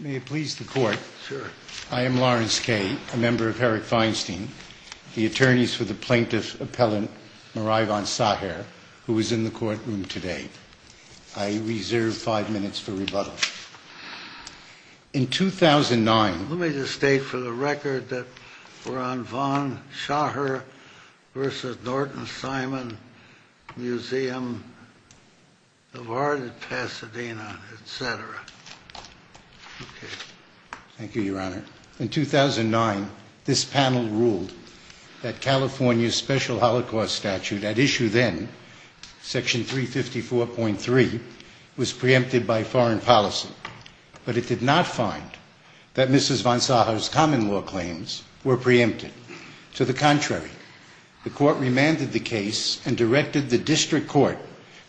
May it please the court. I am Lawrence Kay, a member of Herrick Feinstein, the attorneys for the plaintiff appellant Marei Von Saher, who is in the courtroom today. I reserve five minutes for rebuttal. In 2009... Let me just state for the record that we're on Von Saher v. Norton Simon Museum of Art at Pasadena, etc. Thank you, Your Honor. In 2009, this panel ruled that California's special holocaust statute at issue then, section 354.3, was preempted by foreign policy. But it did not find that Mrs. Von Saher's common law claims were preempted. To the contrary, the court remanded the case and directed the district court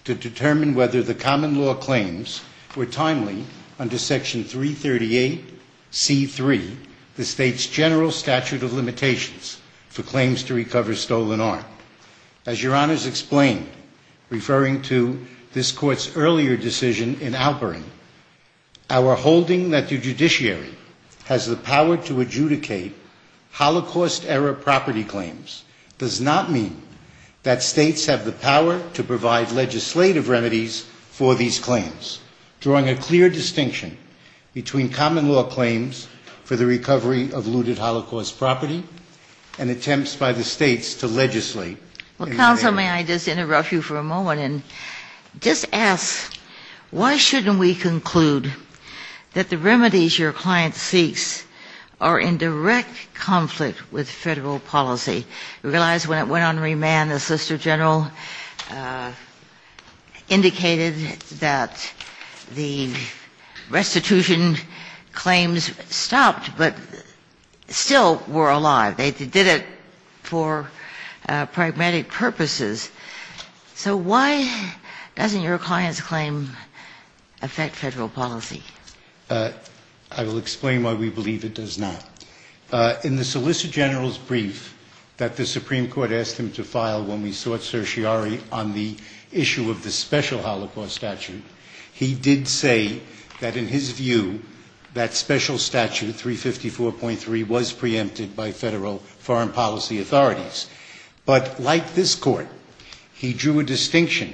to determine whether the common law claims were timely under section 338.C.3, the state's general statute of limitations for claims to recover stolen art. As Your Honor's explained, referring to this court's earlier decision in Alperin, our holding that the judiciary has the power to adjudicate holocaust-era property claims does not mean that states have the power to provide legislative remedies for these claims. And so, Your Honor, I would like to ask counsel to comment on this, drawing a clear distinction between common law claims for the recovery of looted holocaust property and attempts by the states to legislate. Well, counsel, may I just interrupt you for a moment and just ask, why shouldn't we conclude that the remedies your client seeks are in direct conflict with Federal policy? We realize when it went on remand, the Solicitor General indicated that the restitution claims stopped, but still were alive. They did it for pragmatic purposes. So why doesn't your client's claim affect Federal policy? I will explain why we believe it does not. In the Solicitor General's brief that the Supreme Court asked him to file when we sought certiorari on the issue of the special holocaust statute, he did say that, in his view, that special statute 354.3 was preempted by Federal foreign policy authorities. But like this Court, he drew a distinction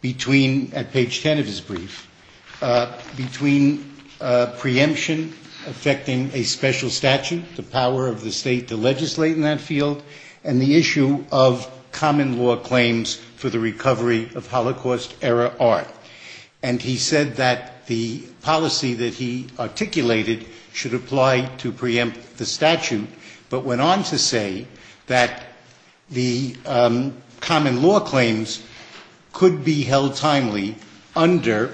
between, at page 10 of his brief, between preemption affecting a special statute, the power of the state to legislate in that field, and the issue of common law claims for the recovery of holocaust-era art. And he said that the policy that he articulated should apply to preempt the statute, but went on to say that the common law claims could be held timely under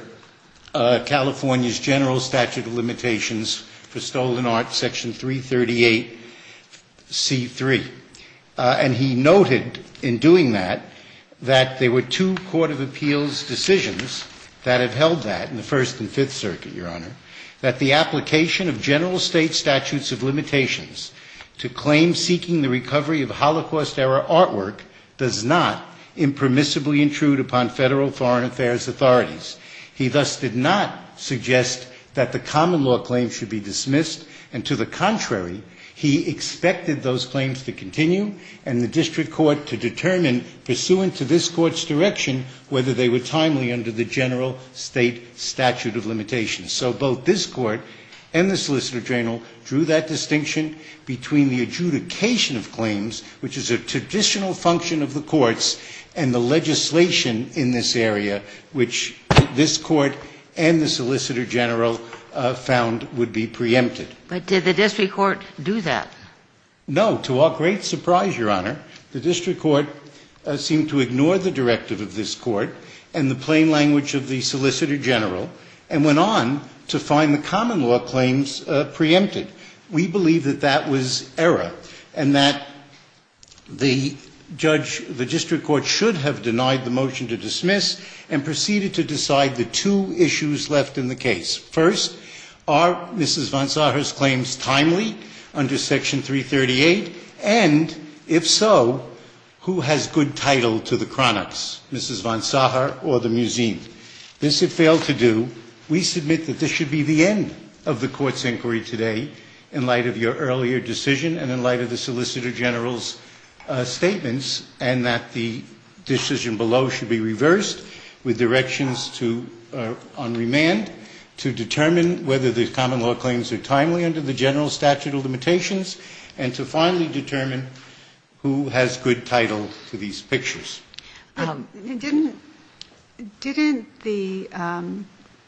California's General Statute of Limitations for Stolen Art Section 338C.3. And he noted, in doing that, that there were two court of appeals decisions that have held that in the First and Fifth Circuit, Your Honor, that the application of general state statutes of limitations to claims seeking the recovery of holocaust-era artwork does not impermissibly intrude upon Federal foreign affairs authorities. He thus did not suggest that the common law claims should be dismissed, and to the contrary, he expected those claims to continue, and the district court to determine, pursuant to this Court's direction, whether they were timely under the general state statute of limitations. So both this Court and the Solicitor General drew that distinction between the adjudication of claims, which is a traditional function of the courts, and the legislation in this area, which this Court and the Solicitor General found would be preempted. But did the district court do that? No. To our great surprise, Your Honor, the district court seemed to ignore the directive of this Court and the plain language of the Solicitor General and went on to find the common law claims preempted. We believe that that was error and that the judge, the district court, should have denied the motion to dismiss and proceeded to decide the two issues left in the case. First, are Mrs. von Sacher's claims timely under Section 338? And, if so, who has good title to the chronics, Mrs. von Sacher or the museum? This had failed to do. We submit that this should be the end of the Court's inquiry today, in light of your earlier decision and in light of the Solicitor General's statements, and that the decision below should be reversed, with directions to, on remand, to determine whether the common law claims are timely under the general statute of limitations, and to finally determine who has good title to these pictures. Didn't the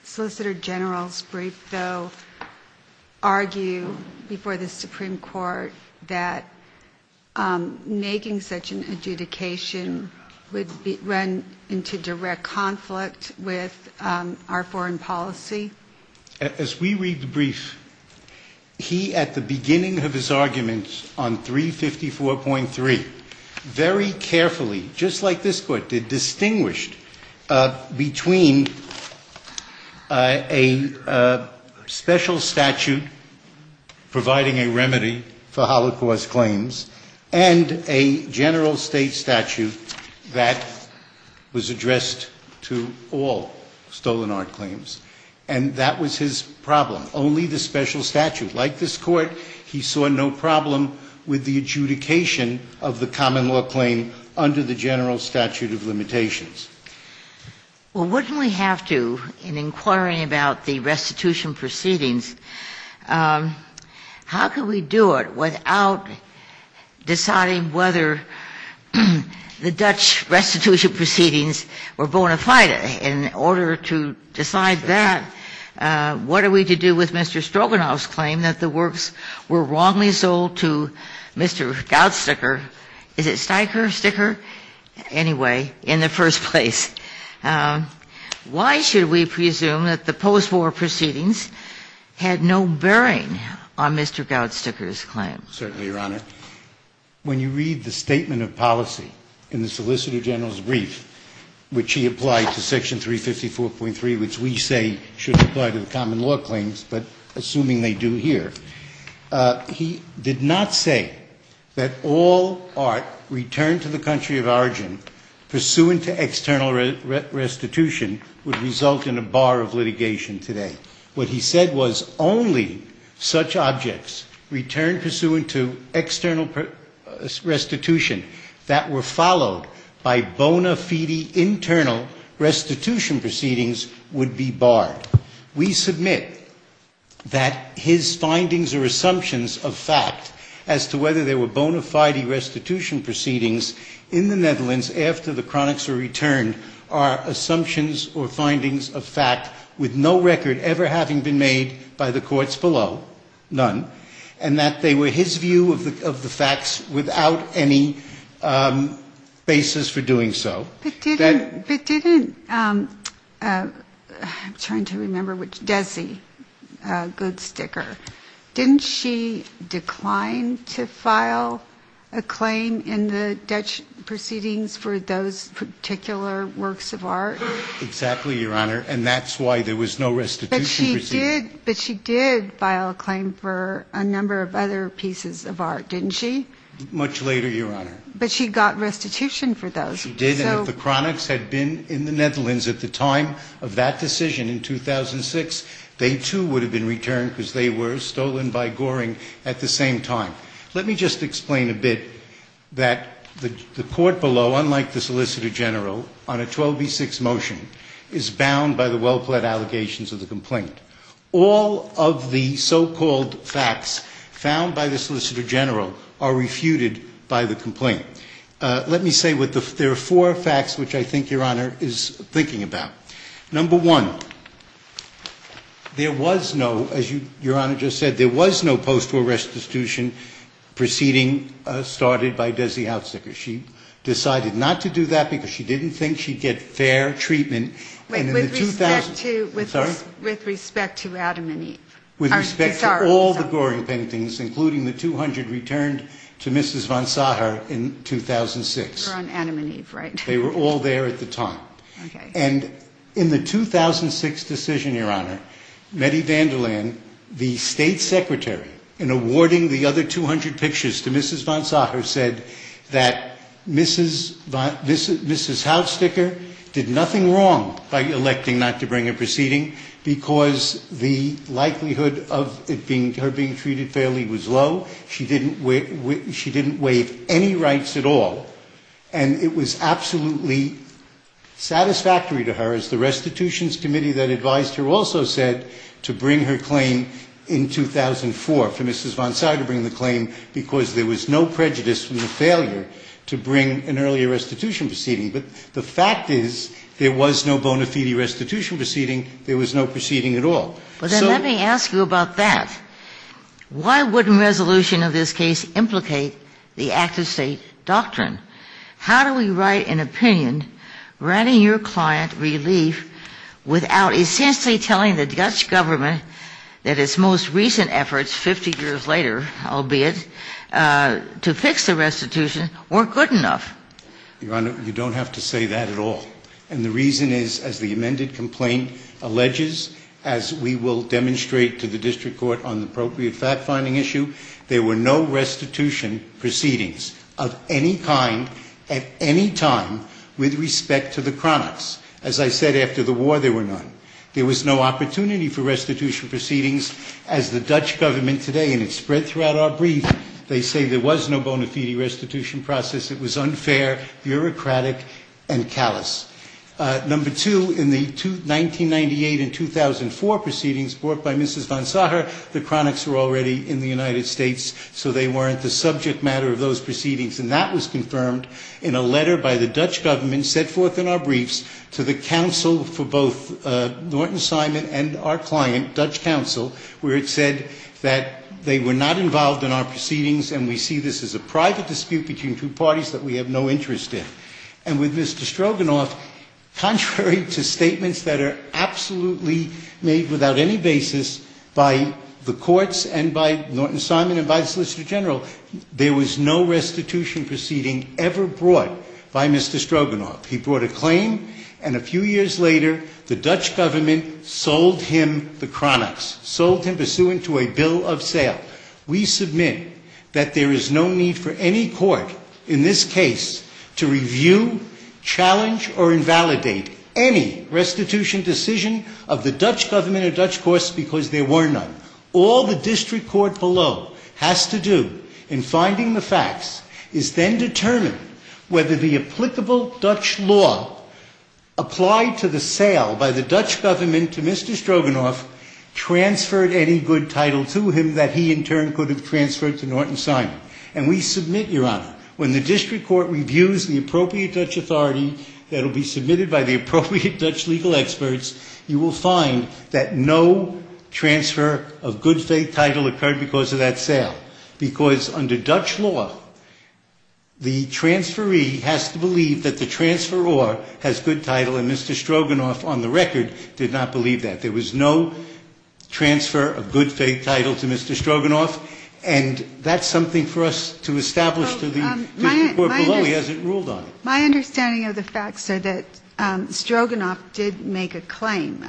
Solicitor General's brief, though, argue before the Supreme Court that making such an adjudication would run into direct conflict with our foreign policy? As we read the brief, he, at the beginning of his arguments on 354.3, very carefully, just like this Court did, distinguished between a special statute providing a remedy for Holocaust claims and a general state statute that was addressed to all stolen art claims. And that was his problem, only the special statute. Like this Court, he saw no problem with the adjudication of the common law claim under the general statute of limitations. Well, wouldn't we have to, in inquiring about the restitution proceedings, how can we do it without deciding whether the Dutch restitution proceedings were bona fide? In order to decide that, what are we to do with Mr. Stroganoff's claim that the works were wrongly sold to Mr. Goudsteker? Is it Steiker, Sticker? Anyway, in the first place, why should we presume that the postwar proceedings had no bearing on Mr. Goudsteker's claim? Certainly, Your Honor. When you read the statement of policy in the Solicitor General's brief, which he applied to Section 354.3, which we say should apply to the common law claims, but assuming they do here, he did not say that all art returned to the country of origin pursuant to external restitution would result in a bar of litigation today. What he said was only such objects returned pursuant to external restitution that were followed by bona fide internal restitution proceedings would be barred. We submit that his findings or assumptions of fact as to whether there were bona fide restitution proceedings in the Netherlands after the chronics were returned are assumptions or findings of fact with no record ever having been made by the courts below, none, and that they were his view of the facts without any basis for doing so. But didn't, I'm trying to remember, Desi Goudsteker, didn't she decline to file a claim in the Dutch proceedings for those particular works of art? Exactly, Your Honor, and that's why there was no restitution proceedings. But she did file a claim for a number of other pieces of art, didn't she? Much later, Your Honor. But she got restitution for those. She did, and if the chronics had been in the Netherlands at the time of that decision in 2006, they, too, would have been returned because they were stolen by Goring at the same time. Let me just explain a bit that the court below, unlike the Solicitor General, on a 12B6 motion, is bound by the well-pled allegations of the complaint. All of the so-called facts found by the Solicitor General are refuted by the complaint. Let me say there are four facts which I think Your Honor is thinking about. Number one, there was no, as Your Honor just said, there was no post-war restitution proceeding started by Desi Goudsteker. She decided not to do that because she didn't think she'd get fair treatment. With respect to Adam and Eve. With respect to all the Goring paintings, including the 200 returned to Mrs. von Sacher in 2006. They were on Adam and Eve, right? They were all there at the time. And in the 2006 decision, Your Honor, Mette van der Laan, the State Secretary, in awarding the other 200 pictures to Mrs. von Sacher, said that Mrs. Houtsteker did nothing wrong by electing not to bring a proceeding because the likelihood of her being treated fairly was low. She didn't waive any rights at all. And it was absolutely satisfactory to her, as the restitutions committee that advised her also said, to bring her claim in 2004 for Mrs. von Sacher to bring the claim because there was no prejudice from the failure to bring an earlier restitution proceeding. But the fact is there was no bona fide restitution proceeding. There was no proceeding at all. So. But then let me ask you about that. Why wouldn't resolution of this case implicate the active State doctrine? How do we write an opinion granting your client relief without essentially telling the Dutch government that its most recent efforts 50 years later, albeit, to fix the restitution weren't good enough? Your Honor, you don't have to say that at all. And the reason is, as the amended complaint alleges, as we will demonstrate to the district court on the appropriate fact-finding issue, there were no restitution proceedings of any kind at any time with respect to the chronics. As I said, after the war, there were none. There was no opportunity for restitution proceedings. As the Dutch government today, and it's spread throughout our brief, they say there was no bona fide restitution process. It was unfair, bureaucratic, and callous. Number two, in the 1998 and 2004 proceedings brought by Mrs. von Sacher, the chronics were already in the United States, so they weren't the subject matter of those proceedings. And that was confirmed in a letter by the Dutch government set forth in our briefs to the counsel for both Norton Simon and our client, Dutch counsel, where it said that they were not involved in our proceedings and we see this as a private dispute between two parties that we have no interest in. And with Mr. Stroganoff, contrary to statements that are absolutely made without any basis by the courts and by Norton Simon and by the solicitor general, there was no restitution proceeding ever brought by Mr. Stroganoff. He brought a claim, and a few years later, the Dutch government sold him the chronics, sold him pursuant to a bill of sale. We submit that there is no need for any court in this case to review, challenge, or invalidate any restitution decision of the Dutch government or Dutch courts because there were none. All the district court below has to do in finding the facts is then determine whether the applicable Dutch law applied to the sale by the Dutch government to Mr. Stroganoff transferred any good title to him that he in turn could have transferred to Norton Simon. And we submit, Your Honor, when the district court reviews the appropriate Dutch authority that will be submitted by the appropriate Dutch legal experts, you will find that no transfer of good faith title occurred because of that sale because under Dutch law, the transferee has to believe that the transferor has good title and Mr. Stroganoff on the record did not believe that. There was no transfer of good faith title to Mr. Stroganoff, and that's something for us to establish to the district court below as it ruled on it. My understanding of the facts are that Stroganoff did make a claim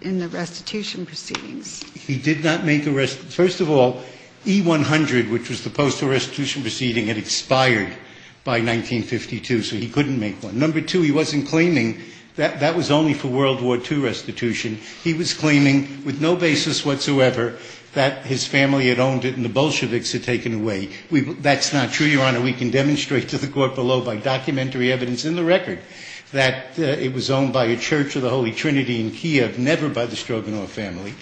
in the restitution proceedings. He did not make a restitution. First of all, E-100, which was the postal restitution proceeding, had expired by 1952, so he couldn't make one. Number two, he wasn't claiming that that was only for World War II restitution. He was claiming with no basis whatsoever that his family had owned it and the Bolsheviks had taken it away. That's not true, Your Honor. We can demonstrate to the court below by documentary evidence in the record that it was owned by a church of the Holy Trinity in Kiev, never by the Stroganoff family.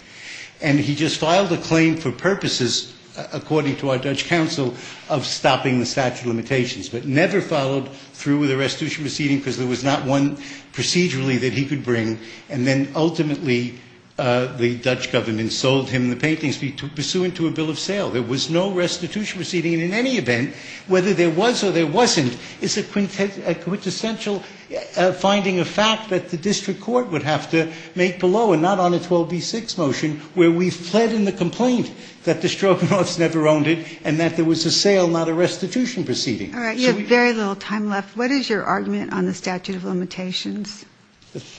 And he just filed a claim for purposes, according to our Dutch counsel, of stopping the statute of limitations, but never followed through with the restitution proceeding because there was not one procedurally that he could bring, and then ultimately the Dutch government sold him the paintings pursuant to a bill of sale. There was no restitution proceeding, and in any event, whether there was or there wasn't, is a quintessential finding of fact that the district court would have to make below, and not on a 12b-6 motion where we fled in the complaint that the Stroganoffs never owned it and that there was a sale, not a restitution proceeding. All right. You have very little time left. What is your argument on the statute of limitations?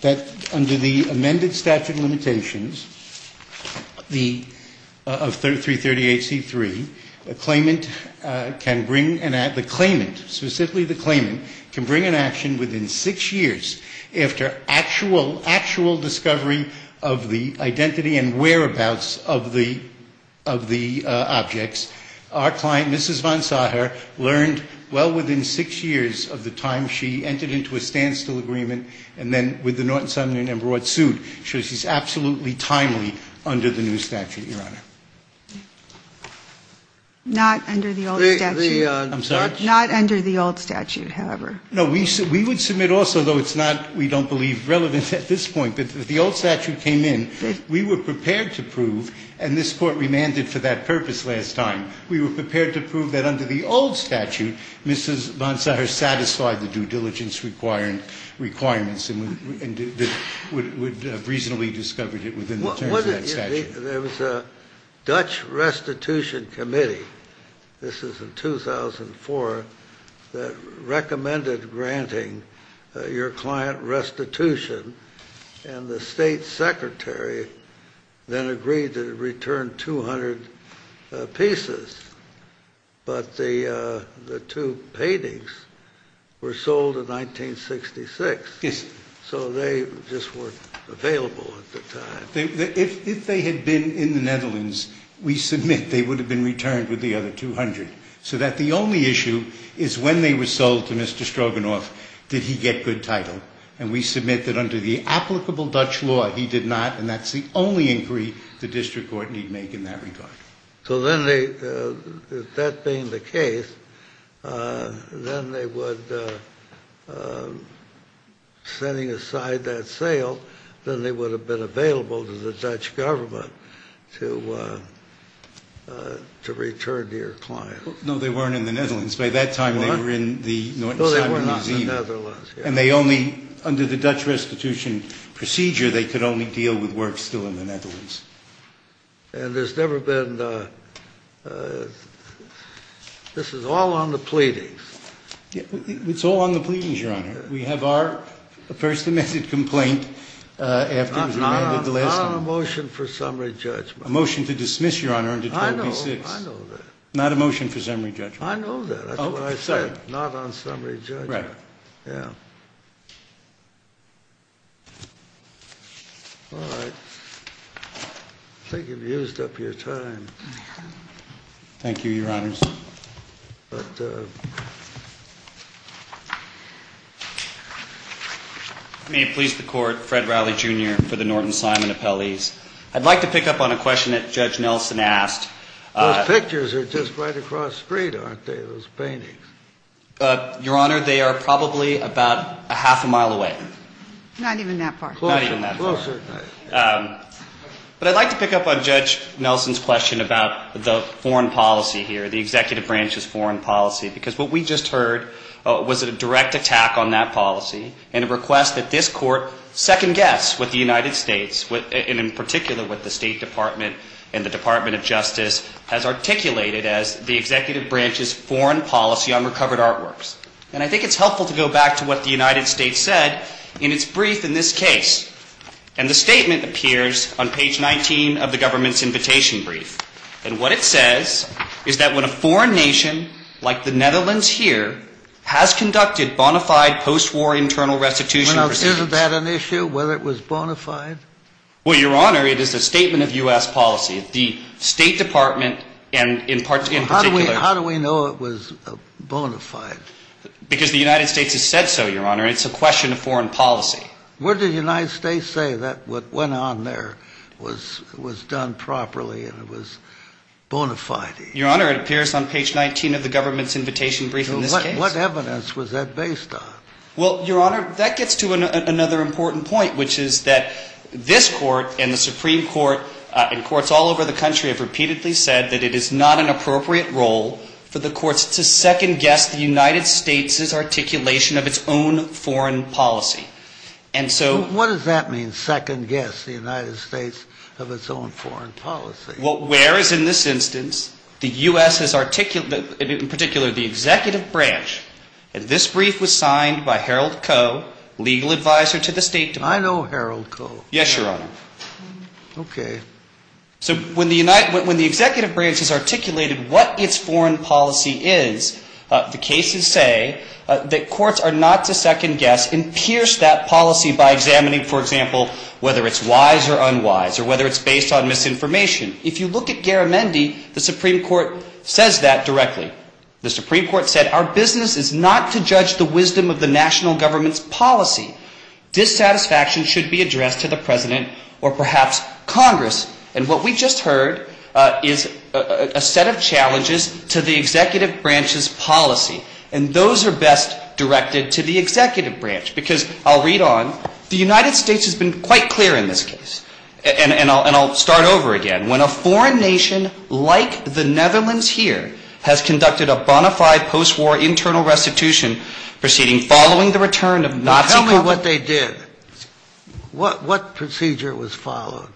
That under the amended statute of limitations, the 338C-3, a claimant can bring an act, the claimant, specifically the claimant, can bring an action within six years after actual, actual discovery of the identity and whereabouts of the objects. Our client, Mrs. von Sacher, learned well within six years of the time she entered into a standstill agreement and then, with the Norton Sumner No. 1 suit, shows she's absolutely timely under the new statute, Your Honor. Not under the old statute. I'm sorry? Not under the old statute, however. No, we would submit also, though it's not, we don't believe, relevant at this point, that if the old statute came in, we were prepared to prove, and this Court remanded for that purpose last time, we were prepared to prove that under the old statute, and Mrs. von Sacher satisfied the due diligence requirements and would have reasonably discovered it within the terms of that statute. There was a Dutch restitution committee, this was in 2004, that recommended granting your client restitution, and the State Secretary then agreed to return 200 pieces, but the two paintings were sold in 1966, so they just weren't available at the time. If they had been in the Netherlands, we submit they would have been returned with the other 200, so that the only issue is when they were sold to Mr. Stroganoff, did he get good title, and we submit that under the applicable Dutch law, he did not, and that's the only inquiry the District Court need make in that regard. So then they, that being the case, then they would, setting aside that sale, then they would have been available to the Dutch government to return to your client. No, they weren't in the Netherlands. By that time they were in the North Sea Museum. No, they were not in the Netherlands. And they only, under the Dutch restitution procedure, they could only deal with works still in the Netherlands. And there's never been, this is all on the pleadings. It's all on the pleadings, Your Honor. We have our first amended complaint after we amended the last one. Not on a motion for summary judgment. A motion to dismiss, Your Honor, under 12B-6. I know, I know that. Not a motion for summary judgment. I know that. That's what I said, not on summary judgment. Right. Yeah. All right. I think you've used up your time. Thank you, Your Honors. But may it please the Court, Fred Rowley, Jr. for the Norton-Simon Appellees. I'd like to pick up on a question that Judge Nelson asked. Those pictures are just right across the street, aren't they, those paintings? Your Honor, they are probably about a half a mile away. Not even that far. Not even that far. Closer, closer. But I'd like to pick up on Judge Nelson's question about the foreign policy here, the Executive Branch's foreign policy, because what we just heard was a direct attack on that policy and a request that this Court second-guess with the United States, and in particular with the State Department and the Department of Justice, has articulated as the Executive Branch's foreign policy on recovered artworks. And I think it's helpful to go back to what the United States said in its brief in this case. And the statement appears on page 19 of the government's invitation brief. And what it says is that when a foreign nation like the Netherlands here has conducted bona fide post-war internal restitution proceedings. Now, isn't that an issue, whether it was bona fide? Well, Your Honor, it is a statement of U.S. policy. The State Department and in particular. How do we know it was bona fide? Because the United States has said so, Your Honor. It's a question of foreign policy. What did the United States say that what went on there was done properly and it was bona fide? Your Honor, it appears on page 19 of the government's invitation brief in this case. What evidence was that based on? Well, Your Honor, that gets to another important point, which is that this court and the Supreme Court and courts all over the country have repeatedly said that it is not an appropriate role for the courts to second-guess the United States' articulation of its own foreign policy. And so. What does that mean, second-guess the United States of its own foreign policy? Well, whereas in this instance, the U.S. has articulated, in particular, the executive branch. And this brief was signed by Harold Koh, legal advisor to the State Department. I know Harold Koh. Yes, Your Honor. Okay. So when the executive branch has articulated what its foreign policy is, the cases say that courts are not to second-guess and pierce that policy by examining, for example, whether it's wise or unwise or whether it's based on misinformation. If you look at Garamendi, the Supreme Court says that directly. The Supreme Court said our business is not to judge the wisdom of the national government's policy. Dissatisfaction should be addressed to the President or perhaps Congress. And what we just heard is a set of challenges to the executive branch's policy, and those are best directed to the executive branch. Because I'll read on. The United States has been quite clear in this case, and I'll start over again. When a foreign nation like the Netherlands here has conducted a bona fide post-war internal restitution proceeding following the return of Nazi co- Now tell me what they did. What procedure was followed?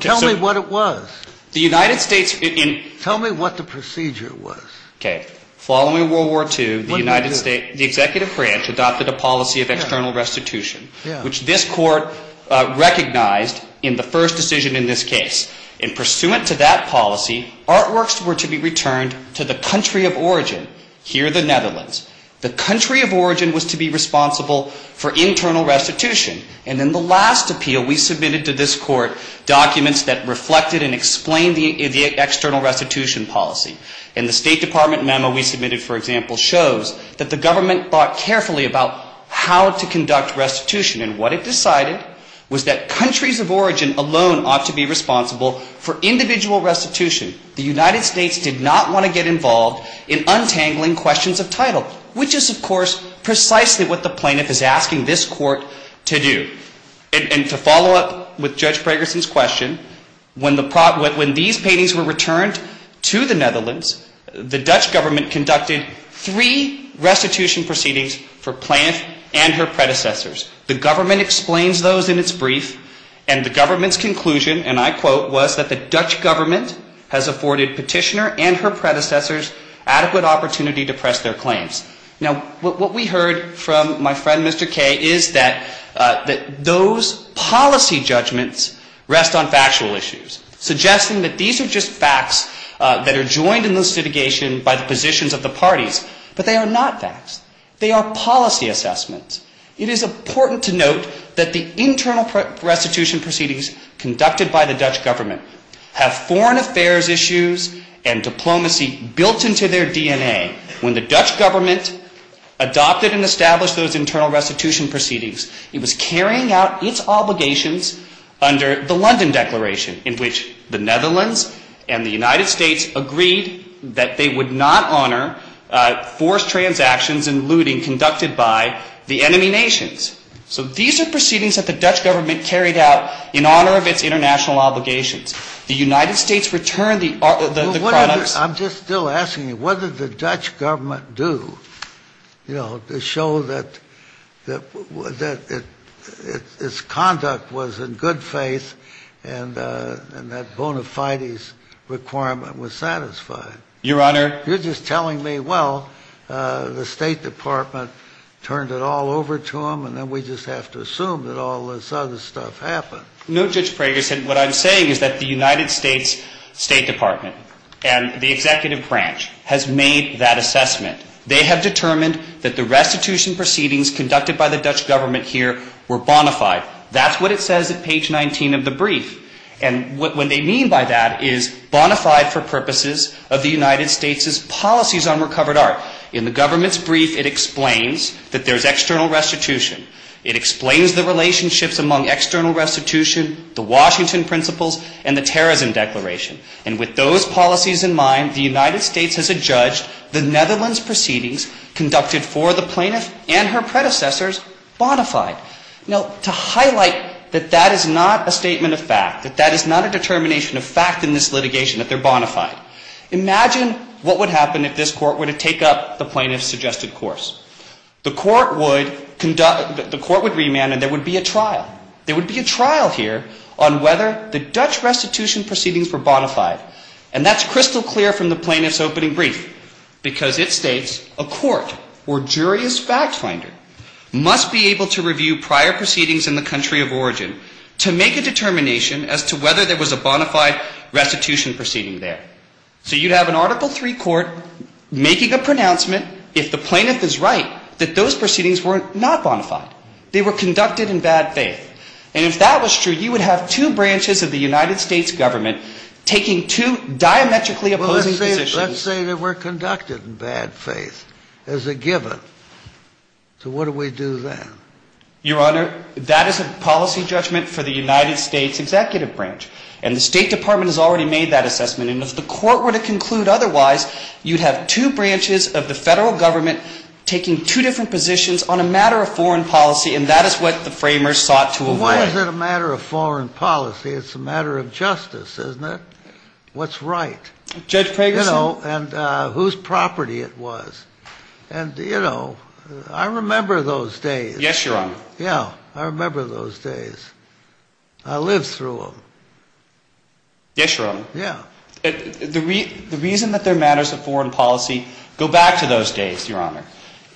Tell me what it was. The United States in Tell me what the procedure was. Okay. Following World War II, the United States, the executive branch adopted a policy of external restitution, which this court recognized in the first decision in this case. And pursuant to that policy, artworks were to be returned to the country of origin, here the Netherlands. The country of origin was to be responsible for internal restitution. And in the last appeal, we submitted to this court documents that reflected and explained the external restitution policy. And the State Department memo we submitted, for example, shows that the government thought carefully about how to conduct restitution. And what it decided was that countries of origin alone ought to be responsible for individual restitution. The United States did not want to get involved in untangling questions of title, which is, of course, precisely what the plaintiff is asking this court to do. And to follow up with Judge Bragerson's question, when these paintings were returned to the Netherlands, the Dutch government conducted three restitution proceedings for plaintiff and her predecessors. The government explains those in its brief, and the government's conclusion, and I quote, was that the Dutch government has afforded petitioner and her predecessors adequate opportunity to press their claims. Now, what we heard from my friend, Mr. Kaye, is that those policy judgments rest on factual issues, suggesting that these are just facts that are joined in this litigation by the positions of the parties. But they are not facts. They are policy assessments. It is important to note that the internal restitution proceedings conducted by the Dutch government have foreign affairs issues and diplomacy built into their DNA. When the Dutch government adopted and established those internal restitution proceedings, it was carrying out its obligations under the London Declaration, in which the Netherlands and the United States agreed that they would not honor forced transactions and looting conducted by the enemy nations. So these are proceedings that the Dutch government carried out in honor of its international obligations. The United States returned the products. I'm just still asking you, what did the Dutch government do, you know, to show that its conduct was in good faith and that bona fides requirement was satisfied? Your Honor. You're just telling me, well, the State Department turned it all over to them, and then we just have to assume that all this other stuff happened. No, Judge Prager, what I'm saying is that the United States State Department and the executive branch has made that assessment. They have determined that the restitution proceedings conducted by the Dutch government here were bona fide. That's what it says at page 19 of the brief. And what they mean by that is bona fide for purposes of the United States' policies on recovered art. In the government's brief, it explains that there's external restitution. It explains the relationships among external restitution, the Washington Principles, and the Terrorism Declaration. And with those policies in mind, the United States has adjudged the Netherlands' proceedings conducted for the plaintiff and her predecessors bona fide. Now, to highlight that that is not a statement of fact, that that is not a determination of fact in this litigation, that they're bona fide, imagine what would happen if this court were to take up the plaintiff's suggested course. The court would conduct the court would remand and there would be a trial. There would be a trial here on whether the Dutch restitution proceedings were bona fide. And that's crystal clear from the plaintiff's opening brief. Because it states a court or jury's fact finder must be able to review prior proceedings in the country of origin to make a determination as to whether there was a bona fide restitution proceeding there. So you'd have an Article III court making a pronouncement if the plaintiff is right that those proceedings were not bona fide. They were conducted in bad faith. And if that was true, you would have two branches of the United States government taking two diametrically opposing positions. Let's say they were conducted in bad faith as a given. So what do we do then? Your Honor, that is a policy judgment for the United States Executive Branch. And the State Department has already made that assessment. And if the court were to conclude otherwise, you'd have two branches of the Federal Government taking two different positions on a matter of foreign policy. And that is what the framers sought to avoid. Well, why is it a matter of foreign policy? It's a matter of justice, isn't it? What's right? Judge Craigerson? You know, and whose property it was. And, you know, I remember those days. Yes, Your Honor. Yeah. I remember those days. I lived through them. Yes, Your Honor. Yeah. The reason that they're matters of foreign policy go back to those days, Your Honor.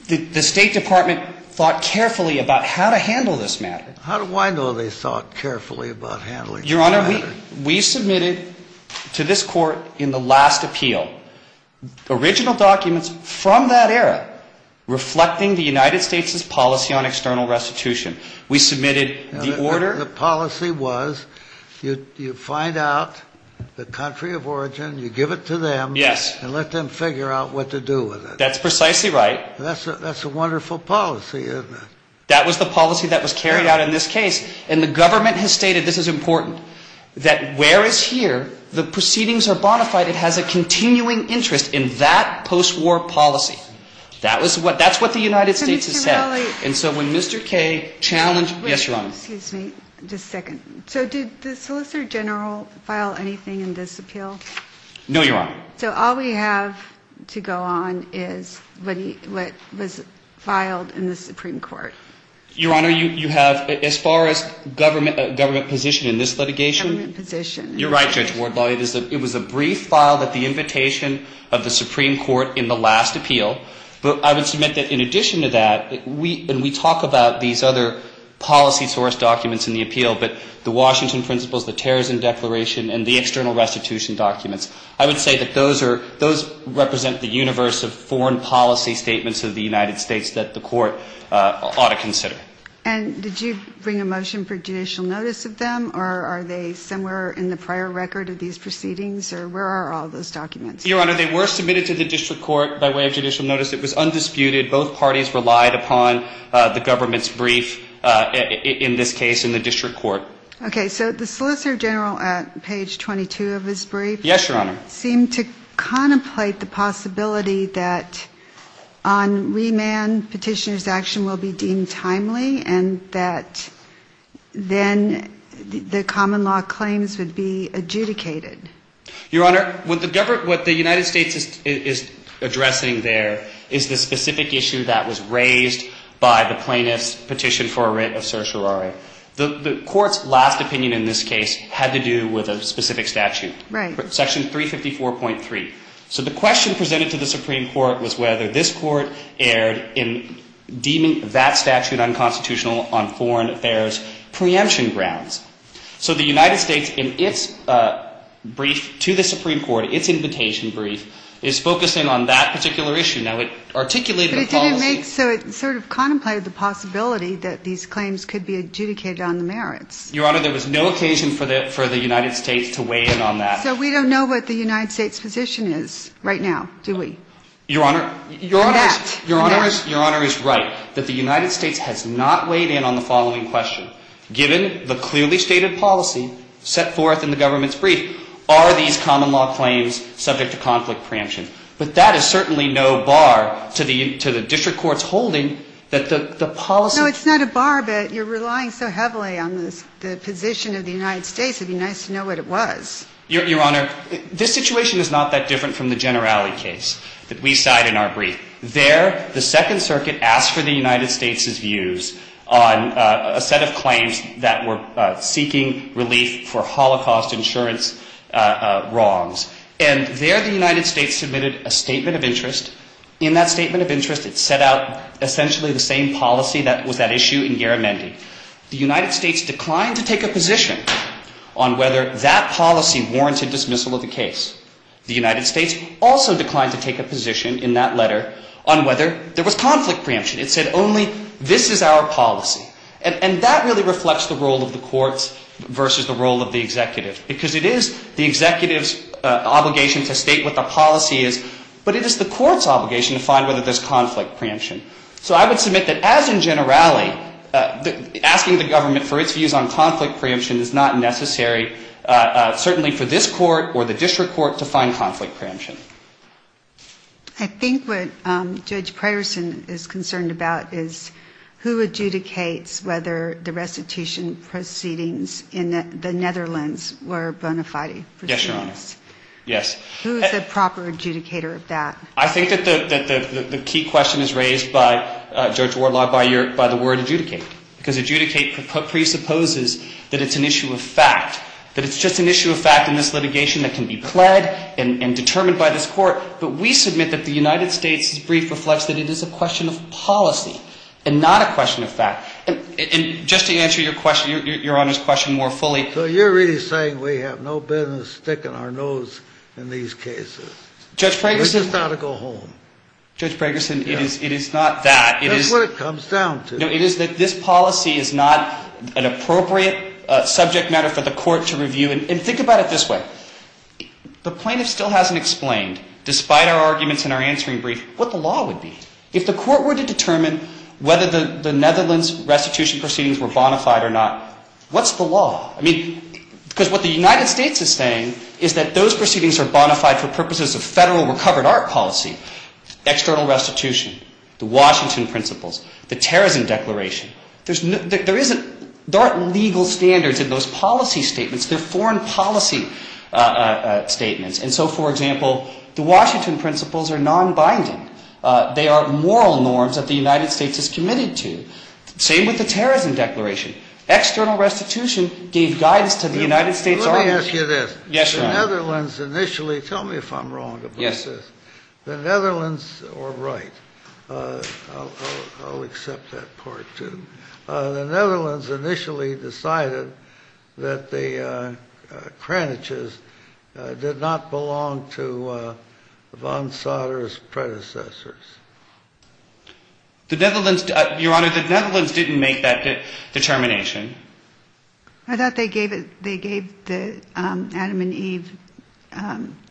The State Department thought carefully about how to handle this matter. How do I know they thought carefully about handling this matter? Your Honor, we submitted to this Court in the last appeal original documents from that era reflecting the United States' policy on external restitution. We submitted the order. The policy was you find out the country of origin. You give it to them. Yes. And let them figure out what to do with it. That's precisely right. That's a wonderful policy, isn't it? That was the policy that was carried out in this case. And the government has stated this is important, that where it's here, the proceedings are bona fide. It has a continuing interest in that post-war policy. That's what the United States has said. And so when Mr. Kaye challenged ñ yes, Your Honor. Excuse me. Just a second. So did the Solicitor General file anything in this appeal? No, Your Honor. So all we have to go on is what was filed in the Supreme Court. Your Honor, you have as far as government position in this litigation. Government position. You're right, Judge Wardlaw. It was a brief file that the invitation of the Supreme Court in the last appeal. But I would submit that in addition to that, and we talk about these other policy source documents in the appeal, but the Washington Principles, the Terrorism Declaration, and the external restitution documents, I would say that those represent the universe of foreign policy statements of the United States that the Court ought to consider. And did you bring a motion for judicial notice of them? Or are they somewhere in the prior record of these proceedings? Or where are all those documents? Your Honor, they were submitted to the district court by way of judicial notice. It was undisputed. Both parties relied upon the government's brief in this case in the district court. Okay. So the Solicitor General at page 22 of his brief. Yes, Your Honor. Seemed to contemplate the possibility that on remand petitioner's action will be deemed timely and that then the common law claims would be adjudicated. Your Honor, what the United States is addressing there is the specific issue that was raised by the plaintiff's petition for a writ of certiorari. The Court's last opinion in this case had to do with a specific statute. Right. Section 354.3. So the question presented to the Supreme Court was whether this Court erred in deeming that statute unconstitutional on foreign affairs preemption grounds. So the United States in its brief to the Supreme Court, its invitation brief, is focusing on that particular issue. Now, it articulated the policy. But it didn't make so it sort of contemplated the possibility that these claims could be adjudicated on the merits. Your Honor, there was no occasion for the United States to weigh in on that. So we don't know what the United States' position is right now, do we? Your Honor. We can't. Your Honor is right that the United States has not weighed in on the following question. Given the clearly stated policy set forth in the government's brief, are these common law claims subject to conflict preemption? But that is certainly no bar to the district court's holding that the policy. No, it's not a bar, but you're relying so heavily on the position of the United States. It would be nice to know what it was. Your Honor, this situation is not that different from the Generali case that we cite in our brief. There, the Second Circuit asked for the United States' views on a set of claims that were seeking relief for Holocaust insurance wrongs. And there, the United States submitted a statement of interest. In that statement of interest, it set out essentially the same policy that was at issue in Garamendi. The United States declined to take a position on whether that policy warranted dismissal of the case. The United States also declined to take a position in that letter on whether there was conflict preemption. It said only, this is our policy. And that really reflects the role of the courts versus the role of the executive. Because it is the executive's obligation to state what the policy is, but it is the court's obligation to find whether there's conflict preemption. So I would submit that as in Generali, asking the government for its views on conflict preemption is not necessary, certainly for this court or the district court, to find conflict preemption. I think what Judge Preyerson is concerned about is who adjudicates whether the restitution proceedings in the Netherlands were bona fide proceedings. Yes, Your Honor. Yes. Who is the proper adjudicator of that? I think that the key question is raised by Judge Wardlaw by the word adjudicate. Because adjudicate presupposes that it's an issue of fact, that it's just an issue of fact in this litigation that can be pled and determined by this court. But we submit that the United States' brief reflects that it is a question of policy and not a question of fact. And just to answer your question, Your Honor's question more fully. So you're really saying we have no business sticking our nose in these cases. Judge Preyerson. We just ought to go home. Judge Preyerson, it is not that. It is. That's what it comes down to. No, it is that this policy is not an appropriate subject matter for the court to review. And think about it this way. The plaintiff still hasn't explained, despite our arguments in our answering brief, what the law would be. If the court were to determine whether the Netherlands restitution proceedings were bona fide or not, what's the law? I mean, because what the United States is saying is that those proceedings are bona fide for purposes of Federal recovered art policy, external restitution, the Washington Principles, the Terrorism Declaration. There aren't legal standards in those policy statements. They're foreign policy statements. And so, for example, the Washington Principles are non-binding. They are moral norms that the United States is committed to. Same with the Terrorism Declaration. External restitution gave guidance to the United States. Let me ask you this. Yes, Your Honor. The Netherlands initially, tell me if I'm wrong about this. Yes. The Netherlands, or right, I'll accept that part, too. The Netherlands initially decided that the Kraniches did not belong to von Sauter's predecessors. The Netherlands, Your Honor, the Netherlands didn't make that determination. I thought they gave Adam and Eve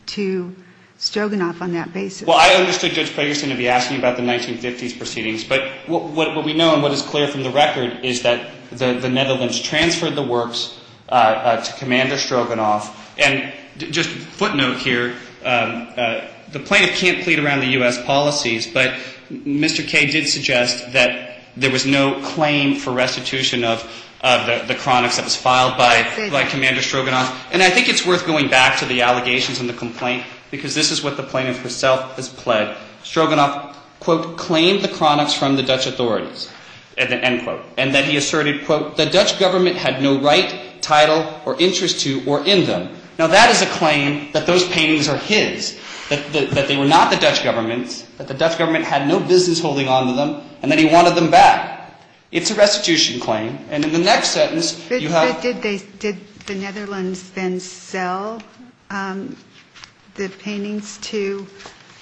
to Stroganoff on that basis. Well, I understood Judge Ferguson to be asking about the 1950s proceedings. But what we know and what is clear from the record is that the Netherlands transferred the works to Commander Stroganoff. And just a footnote here, the plaintiff can't plead around the U.S. policies. But Mr. Kay did suggest that there was no claim for restitution of the Kraniches that was filed by Commander Stroganoff. And I think it's worth going back to the allegations and the complaint, because this is what the plaintiff herself has pled. Stroganoff, quote, claimed the Kraniches from the Dutch authorities, end quote. And then he asserted, quote, the Dutch government had no right, title, or interest to or in them. Now, that is a claim that those paintings are his, that they were not the Dutch government's, that the Dutch government had no business holding on to them, and that he wanted them back. It's a restitution claim. And in the next sentence, you have ---- Did the Netherlands then sell the paintings to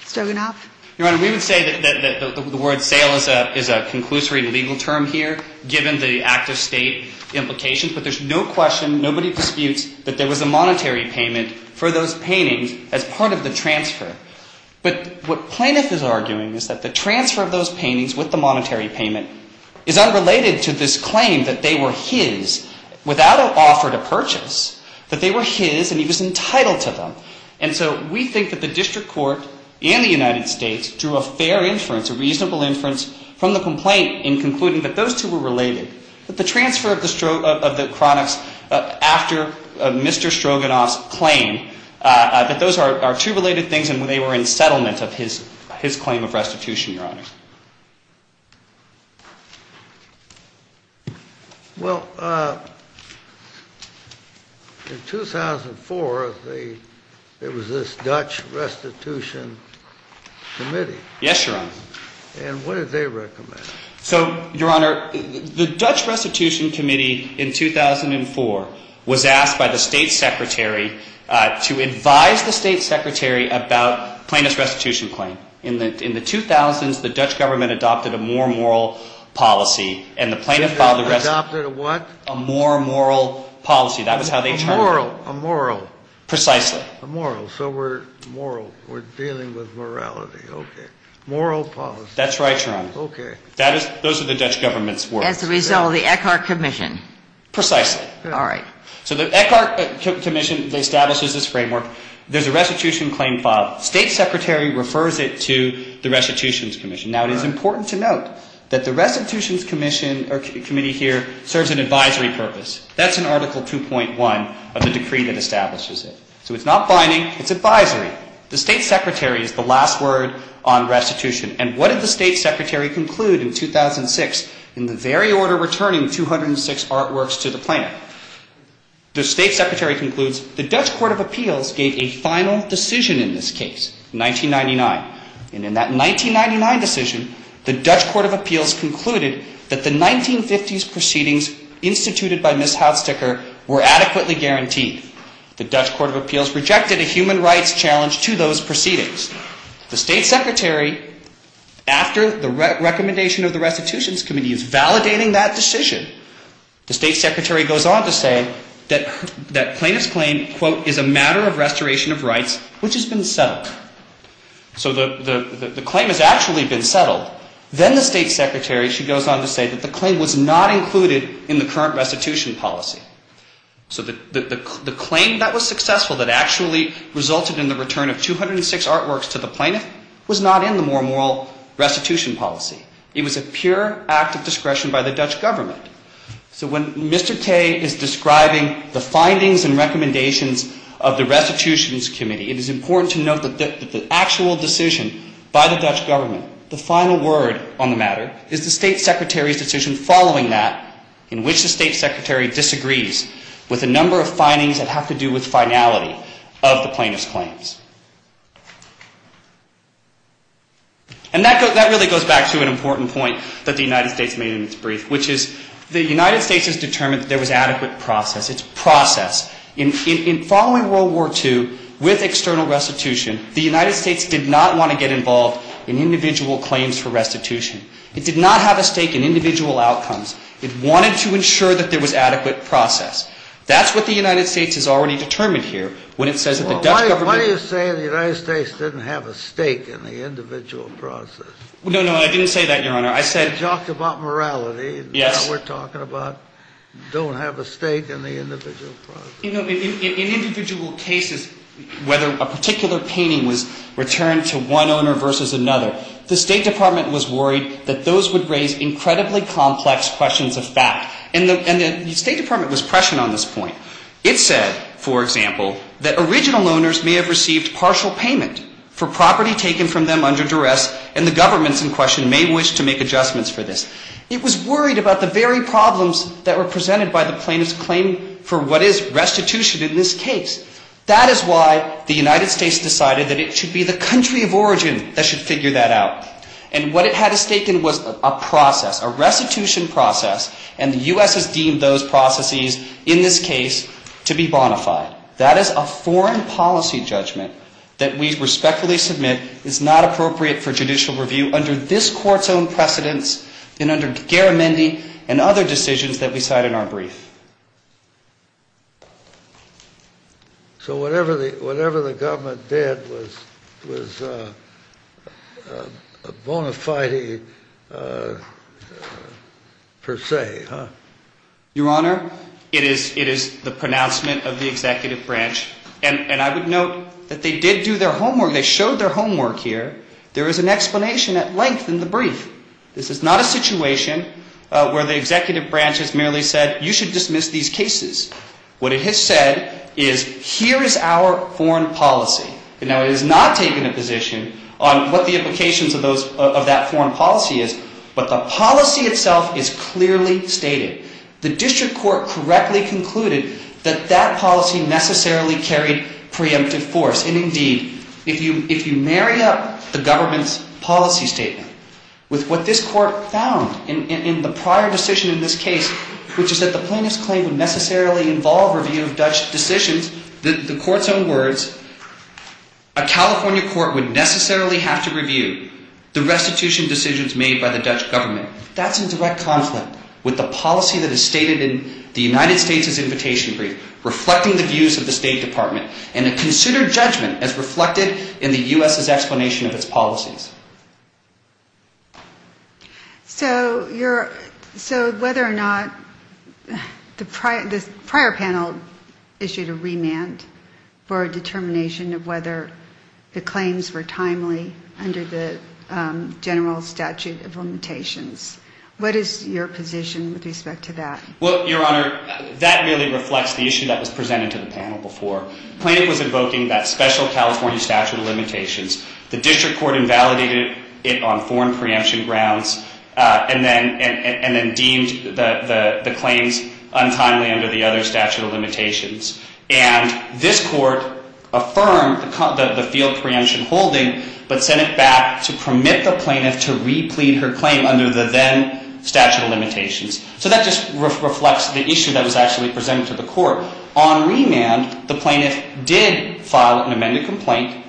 Stroganoff? Your Honor, we would say that the word sale is a conclusory legal term here, given the active state implications. But there's no question, nobody disputes that there was a monetary payment for those paintings as part of the transfer. But what plaintiff is arguing is that the transfer of those paintings with the monetary payment is unrelated to this claim that they were his, without an offer to purchase, that they were his and he was entitled to them. And so we think that the district court and the United States drew a fair inference, a reasonable inference from the complaint in concluding that those two were related, that the transfer of the Kraniches after Mr. Stroganoff's claim, that those are two related things and they were in settlement of his claim of restitution, Your Honor. Well, in 2004, there was this Dutch Restitution Committee. Yes, Your Honor. And what did they recommend? So, Your Honor, the Dutch Restitution Committee in 2004 was asked by the State Secretary to advise the State Secretary about plaintiff's restitution claim. In the 2000s, the Dutch government adopted a more moral policy and the plaintiff filed the restitution. Adopted a what? A more moral policy. That was how they termed it. A moral. Precisely. A moral. So we're dealing with morality. Okay. Moral policy. That's right, Your Honor. Okay. Those are the Dutch government's words. As a result of the Eckart Commission. Precisely. All right. So the Eckart Commission establishes this framework. There's a restitution claim filed. State Secretary refers it to the Restitutions Commission. Now, it is important to note that the Restitutions Committee here serves an advisory purpose. That's in Article 2.1 of the decree that establishes it. So it's not binding. It's advisory. The State Secretary is the last word on restitution. And what did the State Secretary conclude in 2006 in the very order returning 206 artworks to the plaintiff? The State Secretary concludes the Dutch Court of Appeals gave a final decision in this case in 1999. And in that 1999 decision, the Dutch Court of Appeals concluded that the 1950s proceedings instituted by Ms. Houtstekker were adequately guaranteed. The Dutch Court of Appeals rejected a human rights challenge to those proceedings. The State Secretary, after the recommendation of the Restitutions Committee, is validating that decision. The State Secretary goes on to say that plaintiff's claim, quote, is a matter of restoration of rights which has been settled. So the claim has actually been settled. Then the State Secretary, she goes on to say that the claim was not included in the current restitution policy. So the claim that was successful that actually resulted in the return of 206 artworks to the plaintiff was not in the more moral restitution policy. It was a pure act of discretion by the Dutch government. So when Mr. Kaye is describing the findings and recommendations of the Restitutions Committee, it is important to note that the actual decision by the Dutch government, the final word on the matter, is the State Secretary's decision following that in which the State Secretary disagrees with a number of findings that have to do with finality of the plaintiff's claims. And that really goes back to an important point that the United States made in its brief, which is the United States has determined that there was adequate process. It's process. In following World War II with external restitution, the United States did not want to get involved in individual claims for restitution. It did not have a stake in individual outcomes. It wanted to ensure that there was adequate process. That's what the United States has already determined here when it says that the Dutch government... Why do you say the United States didn't have a stake in the individual process? No, no. I didn't say that, Your Honor. I said... You talked about morality. Yes. And now we're talking about don't have a stake in the individual process. You know, in individual cases, whether a particular painting was returned to one owner versus another, the State Department was worried that those would raise incredibly complex questions of fact. And the State Department was prescient on this point. It said, for example, that original owners may have received partial payment for property taken from them under duress and the governments in question may wish to make adjustments for this. It was worried about the very problems that were presented by the plaintiff's claim for what is restitution in this case. That is why the United States decided that it should be the country of origin that should figure that out. And what it had a stake in was a process, a restitution process, and the U.S. has deemed those processes in this case to be bona fide. That is a foreign policy judgment that we respectfully submit is not appropriate for judicial review under this court's own precedence and under Garamendi and other decisions that we cite in our brief. So whatever the government did was bona fide per se, huh? Your Honor, it is the pronouncement of the executive branch. And I would note that they did do their homework. They showed their homework here. There is an explanation at length in the brief. This is not a situation where the executive branch has merely said, you should dismiss these cases. What it has said is, here is our foreign policy. Now, it has not taken a position on what the implications of that foreign policy is, but the policy itself is clearly stated. The district court correctly concluded that that policy necessarily carried preemptive force. And indeed, if you marry up the government's policy statement with what this court found in the prior decision in this case, which is that the plaintiff's claim would necessarily involve review of Dutch decisions, the court's own words, a California court would necessarily have to review the restitution decisions made by the Dutch government. That's in direct conflict with the policy that is stated in the United States' invitation brief, reflecting the views of the State Department and a considered judgment as reflected in the U.S.'s explanation of its policies. So whether or not the prior panel issued a remand for a determination of whether the claims were timely under the general statute of limitations, what is your position with respect to that? Well, Your Honor, that really reflects the issue that was presented to the panel before. The plaintiff was invoking that special California statute of limitations. The district court invalidated it on foreign preemption grounds and then deemed the claims untimely under the other statute of limitations. And this court affirmed the field preemption holding but sent it back to permit the plaintiff to replete her claim under the then statute of limitations. So that just reflects the issue that was actually presented to the court. On remand, the plaintiff did file an amended complaint.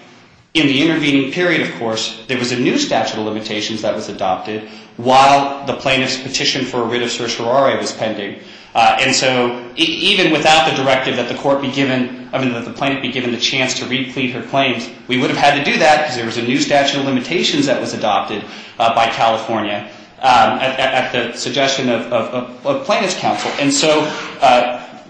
In the intervening period, of course, there was a new statute of limitations that was adopted while the plaintiff's petition for a writ of certiorari was pending. And so even without the directive that the court be given, I mean, that the plaintiff be given the chance to replete her claims, we would have had to do that because there was a new statute of limitations that was adopted by California at the suggestion of plaintiff's counsel. And so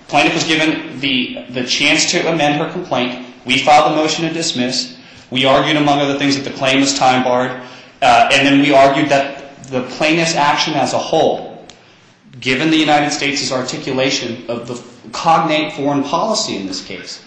plaintiff was given the chance to amend her complaint. We filed a motion to dismiss. We argued, among other things, that the claim was time barred. And then we argued that the plaintiff's action as a whole, given the United States' articulation of the cognate foreign policy in this case,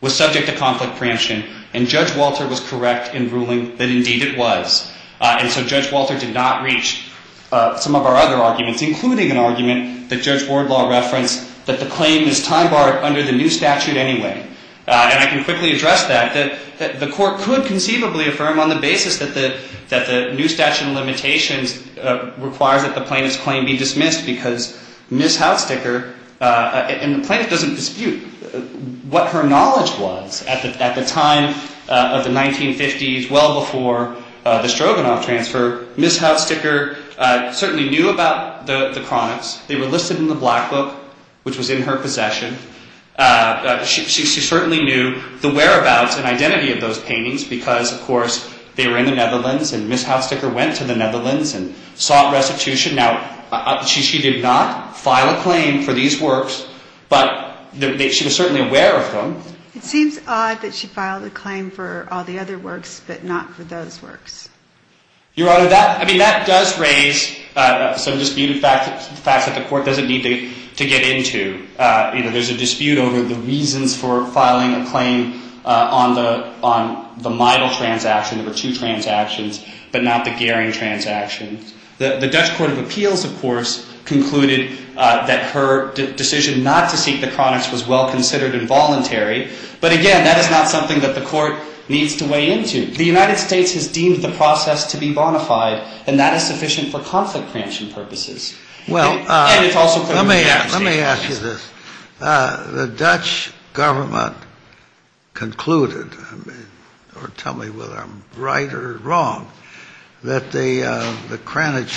was subject to conflict preemption, and Judge Walter was correct in ruling that indeed it was. And so Judge Walter did not reach some of our other arguments, including an argument that Judge Wardlaw referenced, that the claim is time barred under the new statute anyway. And I can quickly address that. The court could conceivably affirm on the basis that the new statute of limitations requires that the plaintiff's claim be dismissed because Ms. Hautsticker, and the plaintiff doesn't dispute what her knowledge was at the time of the 1950s, well before the Stroganoff transfer, Ms. Hautsticker certainly knew about the chronics. They were listed in the Black Book, which was in her possession. She certainly knew the whereabouts and identity of those paintings because, of course, they were in the Netherlands, and Ms. Hautsticker went to the Netherlands and sought restitution. Now, she did not file a claim for these works, but she was certainly aware of them. It seems odd that she filed a claim for all the other works but not for those works. Your Honor, I mean, that does raise some disputed facts that the court doesn't need to get into. You know, there's a dispute over the reasons for filing a claim on the Meidel transaction. There were two transactions, but not the Gehring transaction. The Dutch court of appeals, of course, concluded that her decision not to seek the chronics was well-considered and voluntary. But, again, that is not something that the court needs to weigh into. The United States has deemed the process to be bona fide, and that is sufficient for conflict prevention purposes. And it's also for the United States. Let me ask you this. The Dutch government concluded, or tell me whether I'm right or wrong, that the chronics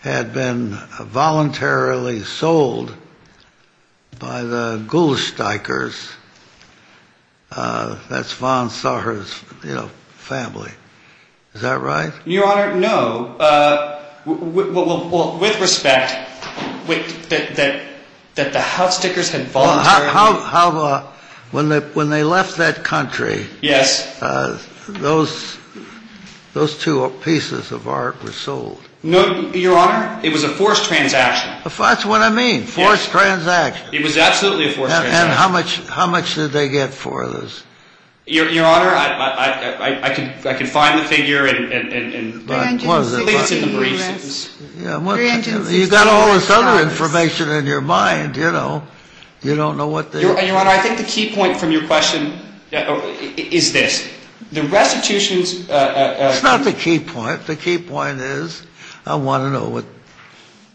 had been voluntarily sold by the Gulsteikers. That's von Saar's, you know, family. Is that right? Your Honor, no. Well, with respect, that the Haussdickers had voluntarily- How about when they left that country- Yes. Those two pieces of art were sold. No, Your Honor, it was a forced transaction. That's what I mean, forced transaction. It was absolutely a forced transaction. And how much did they get for this? Your Honor, I can find the figure and- What does it find? It's in the briefs. You've got all this other information in your mind, you know. You don't know what the- Your Honor, I think the key point from your question is this. The restitution- It's not the key point. The key point is I want to know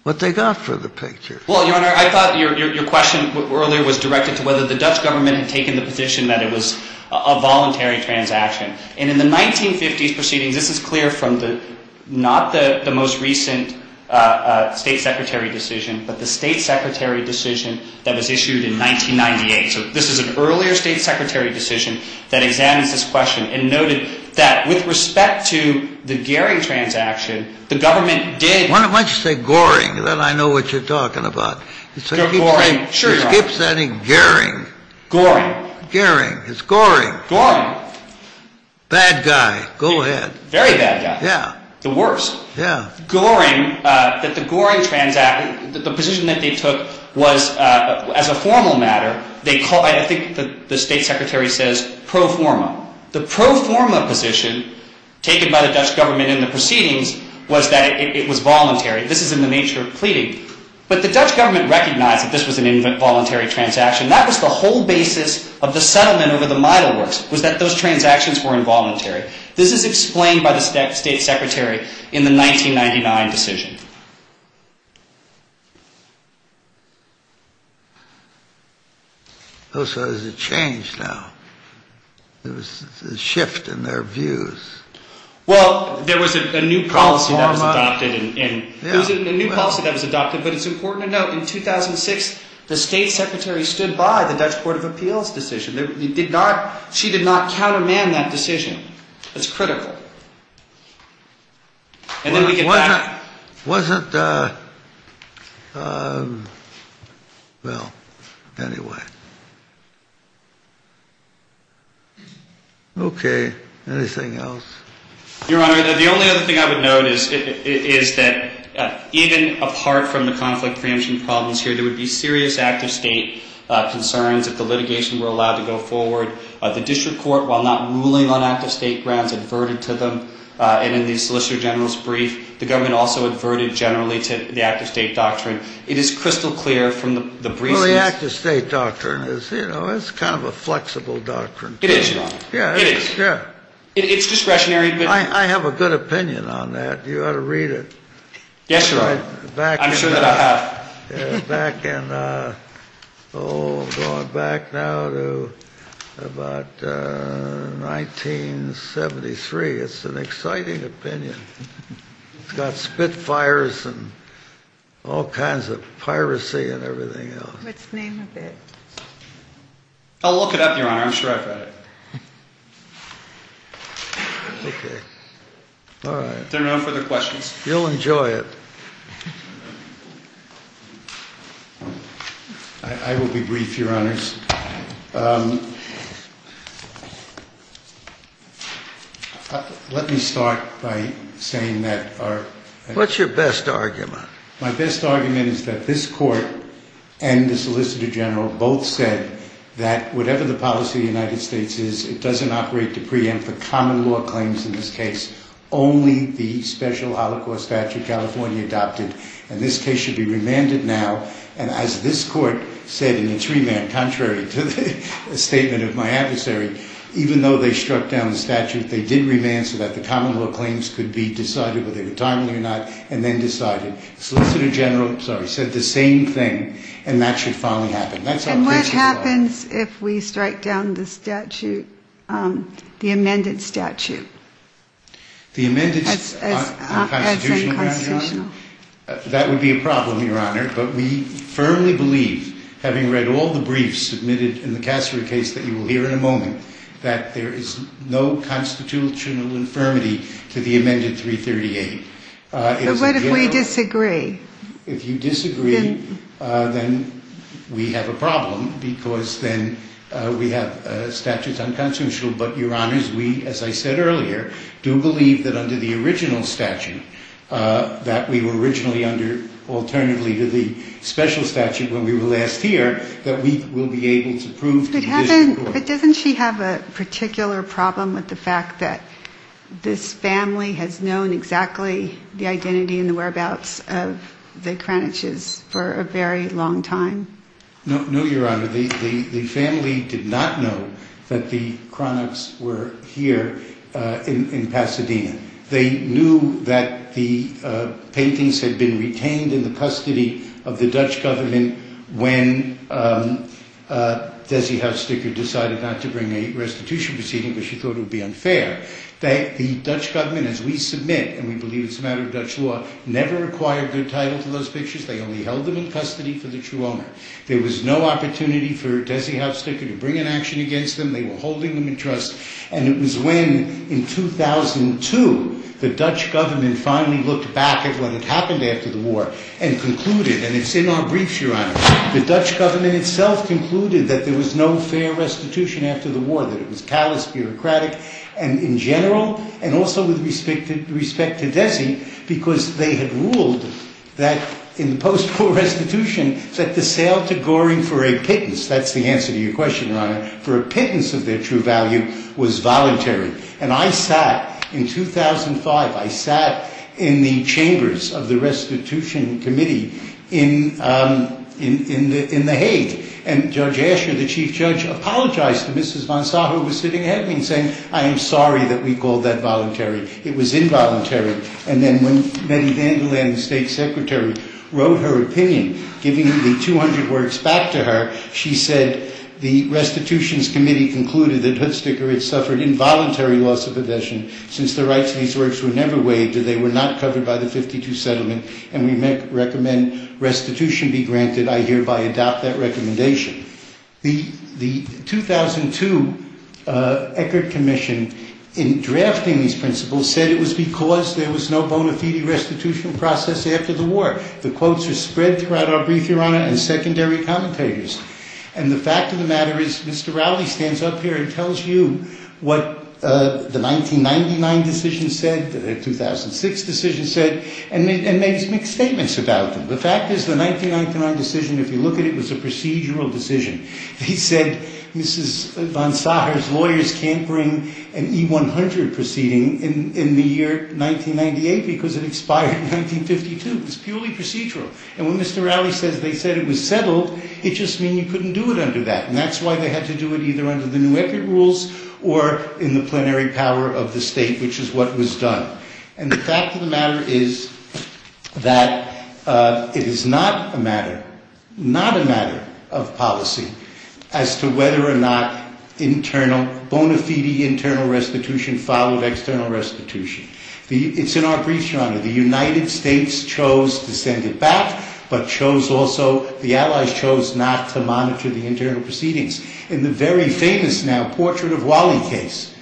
what they got for the picture. Well, Your Honor, I thought your question earlier was directed to whether the Dutch government had taken the position that it was a voluntary transaction. And in the 1950s proceedings, this is clear from not the most recent State Secretary decision, but the State Secretary decision that was issued in 1998. So this is an earlier State Secretary decision that examines this question and noted that with respect to the Goering transaction, the government did- Why don't you say Goering, then I know what you're talking about. Goering, sure, Your Honor. Skip saying Goering. Goering. Goering, it's Goering. Goering. Bad guy, go ahead. Very bad guy. Yeah. The worst. Yeah. Goering, that the Goering transaction, the position that they took was as a formal matter, they call- I think the State Secretary says pro forma. The pro forma position taken by the Dutch government in the proceedings was that it was voluntary. This is in the nature of pleading. But the Dutch government recognized that this was an involuntary transaction. That was the whole basis of the settlement over the Meidelworks, was that those transactions were involuntary. This is explained by the State Secretary in the 1999 decision. Oh, so has it changed now? There was a shift in their views. Well, there was a new policy that was adopted and- Pro forma. Yeah. There was a new policy that was adopted, but it's important to note, in 2006, the State Secretary stood by the Dutch Court of Appeals decision. She did not counterman that decision. It's critical. And then we get back- Was it- Well, anyway. Okay, anything else? Your Honor, the only other thing I would note is that even apart from the conflict preemption problems here, there would be serious active state concerns if the litigation were allowed to go forward. The district court, while not ruling on active state grounds, adverted to them. And in the Solicitor General's brief, the government also adverted generally to the active state doctrine. It is crystal clear from the briefs- Well, the active state doctrine is kind of a flexible doctrine. It is, Your Honor. Yeah. It is. It's discretionary, but- I have a good opinion on that. You ought to read it. Yes, Your Honor. I'm sure that I have. Back in- Oh, going back now to about 1973. It's an exciting opinion. It's got spitfires and all kinds of piracy and everything else. Let's name a bit. I'll look it up, Your Honor. I'm sure I've read it. Okay. All right. There are no further questions. You'll enjoy it. I will be brief, Your Honors. Let me start by saying that our- What's your best argument? My best argument is that this Court and the Solicitor General both said that whatever the policy of the United States is, it doesn't operate to preempt the common law claims in this case. Only the special Holocaust statute California adopted, and this case should be remanded now. And as this Court said in its remand, contrary to the statement of my adversary, even though they struck down the statute, they did remand so that the common law claims could be decided, whether they were timely or not, and then decided. The Solicitor General said the same thing, and that should finally happen. And what happens if we strike down the statute, the amended statute? The amended- As unconstitutional. That would be a problem, Your Honor. But we firmly believe, having read all the briefs submitted in the Kasserer case that you will hear in a moment, that there is no constitutional infirmity to the amended 338. But what if we disagree? If you disagree, then we have a problem because then we have statutes unconstitutional. But, Your Honors, we, as I said earlier, do believe that under the original statute, that we were originally under alternatively to the special statute when we were last here, that we will be able to prove to this Court- But doesn't she have a particular problem with the fact that this family has known exactly the identity and the whereabouts of the Kraniches for a very long time? No, Your Honor. The family did not know that the Kraniches were here in Pasadena. They knew that the paintings had been retained in the custody of the Dutch government when Desi House Sticker decided not to bring a restitution proceeding because she thought it would be unfair. The Dutch government, as we submit, and we believe it's a matter of Dutch law, never acquired good title to those pictures. They only held them in custody for the true owner. There was no opportunity for Desi House Sticker to bring an action against them. They were holding them in trust, and it was when, in 2002, the Dutch government finally looked back at what had happened after the war and concluded, and it's in our briefs, Your Honor, the Dutch government itself concluded that there was no fair restitution after the war, that it was callous, bureaucratic, and in general, and also with respect to Desi because they had ruled that in post-war restitution that the sale to Goring for a pittance, that's the answer to your question, Your Honor, for a pittance of their true value was voluntary. And I sat, in 2005, I sat in the chambers of the restitution committee in the Hague, and Judge Asher, the chief judge, apologized to Mrs. Monsaho, who was sitting ahead of me, saying, I am sorry that we called that voluntary. It was involuntary. And then when Betty Vanderland, the state secretary, wrote her opinion, giving the 200 works back to her, she said, the restitutions committee concluded that Hood Sticker had suffered involuntary loss of possession since the rights to these works were never waived, and they were not covered by the 52 settlement, and we recommend restitution be granted. I hereby adopt that recommendation. The 2002 Eckert Commission, in drafting these principles, said it was because there was no bona fide restitutional process after the war. The quotes are spread throughout our brief, Your Honor, and secondary commentators. And the fact of the matter is Mr. Rowley stands up here and tells you what the 1999 decision said, the 2006 decision said, and made some mixed statements about them. The fact is the 1999 decision, if you look at it, was a procedural decision. They said Mrs. Monsaho's lawyers can't bring an E-100 proceeding in the year 1998 because it expired in 1952. It was purely procedural. And when Mr. Rowley says they said it was settled, it just means you couldn't do it under that. And that's why they had to do it either under the new Eckert rules or in the plenary power of the state, which is what was done. And the fact of the matter is that it is not a matter, not a matter of policy, as to whether or not internal, bona fide internal restitution followed external restitution. It's in our brief, Your Honor, the United States chose to send it back, but chose also, the Allies chose not to monitor the internal proceedings. In the very famous now portrait of Wally case,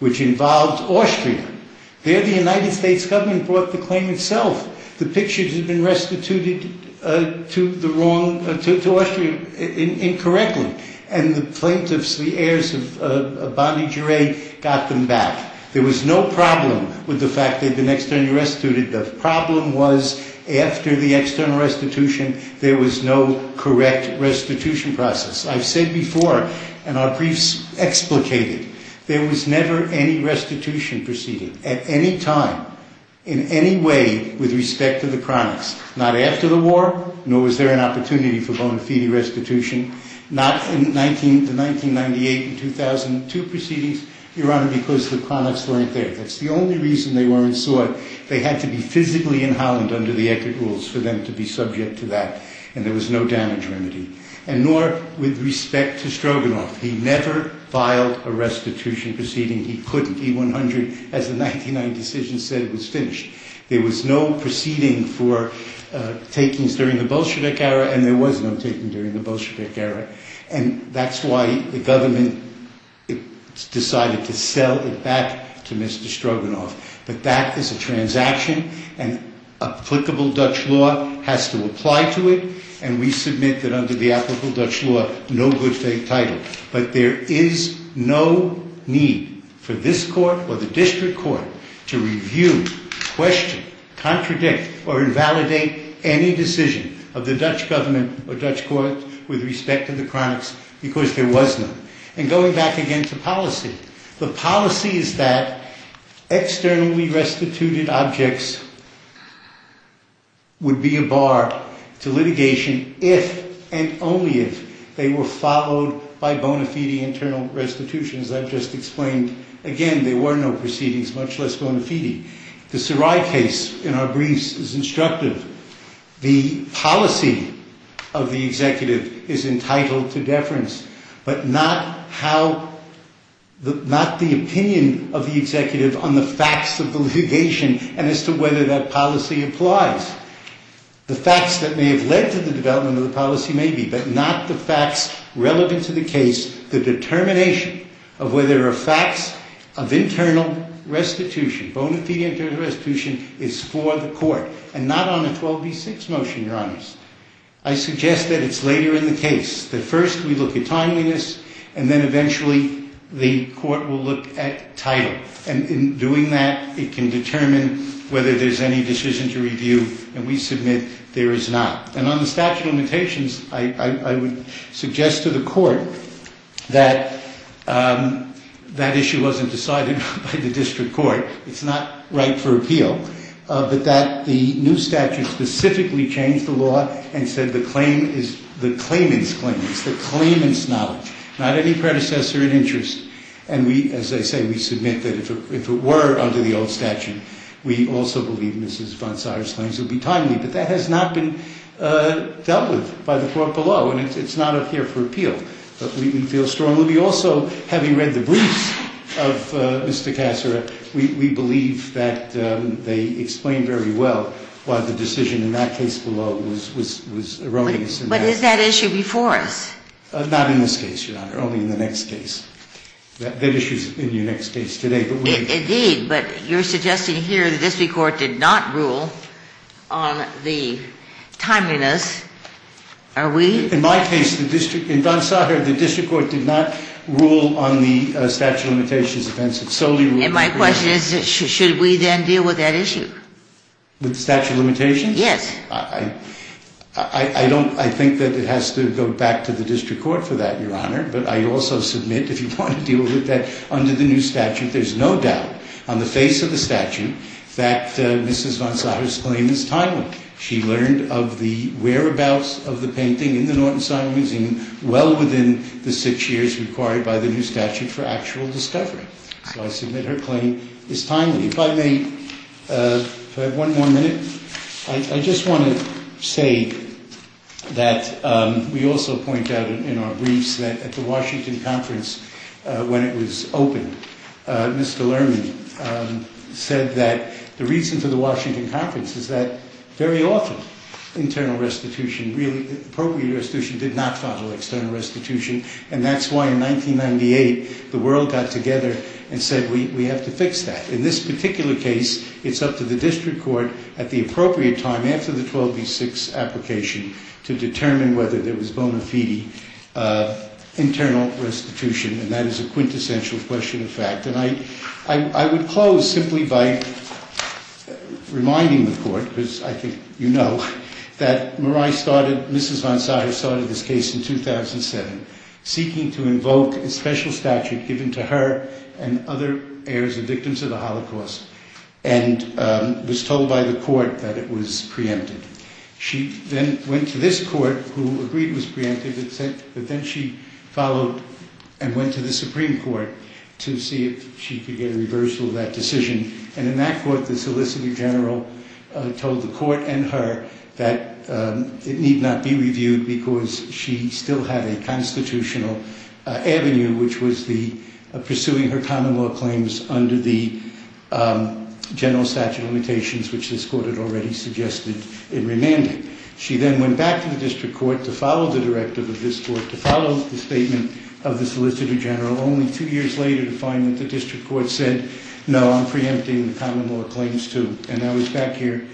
which involved Austria, there the United States government brought the claim itself. The picture had been restituted to the wrong, to Austria incorrectly. And the plaintiffs, the heirs of Bonny Giray, got them back. There was no problem with the fact they'd been externally restituted. The problem was after the external restitution, there was no correct restitution process. I've said before, and our briefs explicated, there was never any restitution proceeding, at any time, in any way, with respect to the chronics. Not after the war, nor was there an opportunity for bona fide restitution. Not in the 1998 and 2002 proceedings, Your Honor, because the chronics weren't there. That's the only reason they weren't sought. They had to be physically in Holland under the Eckert rules for them to be subject to that. And there was no damage remedy. And nor with respect to Stroganoff. He never filed a restitution proceeding. He couldn't. He 100, as the 1999 decision said, was finished. There was no proceeding for takings during the Bolshevik era, and there was no taking during the Bolshevik era. And that's why the government decided to sell it back to Mr. Stroganoff. But that is a transaction, and applicable Dutch law has to apply to it. And we submit that under the applicable Dutch law, no good fake title. But there is no need for this court or the district court to review, question, contradict, or invalidate any decision of the Dutch government or Dutch court with respect to the chronics, because there was none. And going back again to policy. The policy is that externally restituted objects would be a bar to litigation if and only if they were followed by bona fide internal restitutions. As I've just explained, again, there were no proceedings, much less bona fide. The Sarai case in our briefs is instructive. But not how, not the opinion of the executive on the facts of the litigation and as to whether that policy applies. The facts that may have led to the development of the policy may be, but not the facts relevant to the case, the determination of whether a facts of internal restitution, bona fide internal restitution, is for the court. I suggest that it's later in the case that first we look at timeliness and then eventually the court will look at title. And in doing that, it can determine whether there's any decision to review. And we submit there is not. And on the statute of limitations, I would suggest to the court that that issue wasn't decided by the district court. It's not right for appeal. But that the new statute specifically changed the law and said the claim is the claimant's claim. It's the claimant's knowledge. Not any predecessor in interest. And we, as I say, we submit that if it were under the old statute, we also believe Mrs. von Zayers' claims would be timely. But that has not been dealt with by the court below. And it's not up here for appeal. But we feel strongly. Well, we also, having read the briefs of Mr. Cassera, we believe that they explain very well why the decision in that case below was erroneous. But is that issue before us? Not in this case, Your Honor. Only in the next case. That issue's in your next case today. Indeed. But you're suggesting here the district court did not rule on the timeliness, are we? In my case, in von Zayers' case, the district court did not rule on the statute of limitations. It solely ruled. And my question is, should we then deal with that issue? With the statute of limitations? Yes. I don't – I think that it has to go back to the district court for that, Your Honor. But I also submit, if you want to deal with that, under the new statute, there's no doubt on the face of the statute that Mrs. von Zayers' claim is timely. She learned of the whereabouts of the painting in the Norton Simon Museum well within the six years required by the new statute for actual discovery. So I submit her claim is timely. If I may, if I have one more minute. I just want to say that we also point out in our briefs that at the Washington conference, when it was opened, Mr. Lerman said that the reason for the Washington conference is that very often internal restitution, appropriate restitution, did not follow external restitution, and that's why in 1998 the world got together and said we have to fix that. In this particular case, it's up to the district court at the appropriate time, after the 12 v. 6 application, to determine whether there was bona fide internal restitution, I would close simply by reminding the court, because I think you know, that Mrs. von Zayers started this case in 2007, seeking to invoke a special statute given to her and other heirs and victims of the Holocaust, and was told by the court that it was preempted. She then went to this court, who agreed it was preempted, but then she followed and went to the Supreme Court to see if she could get a reversal of that decision, and in that court, the solicitor general told the court and her that it need not be reviewed because she still had a constitutional avenue, which was pursuing her common law claims under the general statute of limitations, which this court had already suggested in remanding. She then went back to the district court to follow the directive of this court, to follow the statement of the solicitor general, only two years later to find that the district court said, no, I'm preempting the common law claims too, and I was back here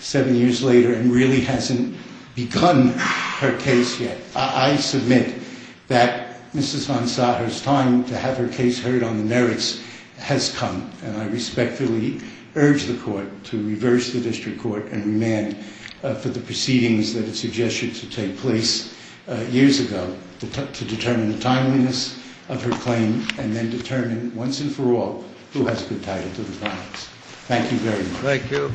seven years later and really hasn't begun her case yet. I submit that Mrs. von Zayers' time to have her case heard on the merits has come, and I respectfully urge the court to reverse the district court and remand for the proceedings that it suggested to take place years ago to determine the timeliness of her claim and then determine, once and for all, who has a good title to the facts. Thank you very much. Thank you.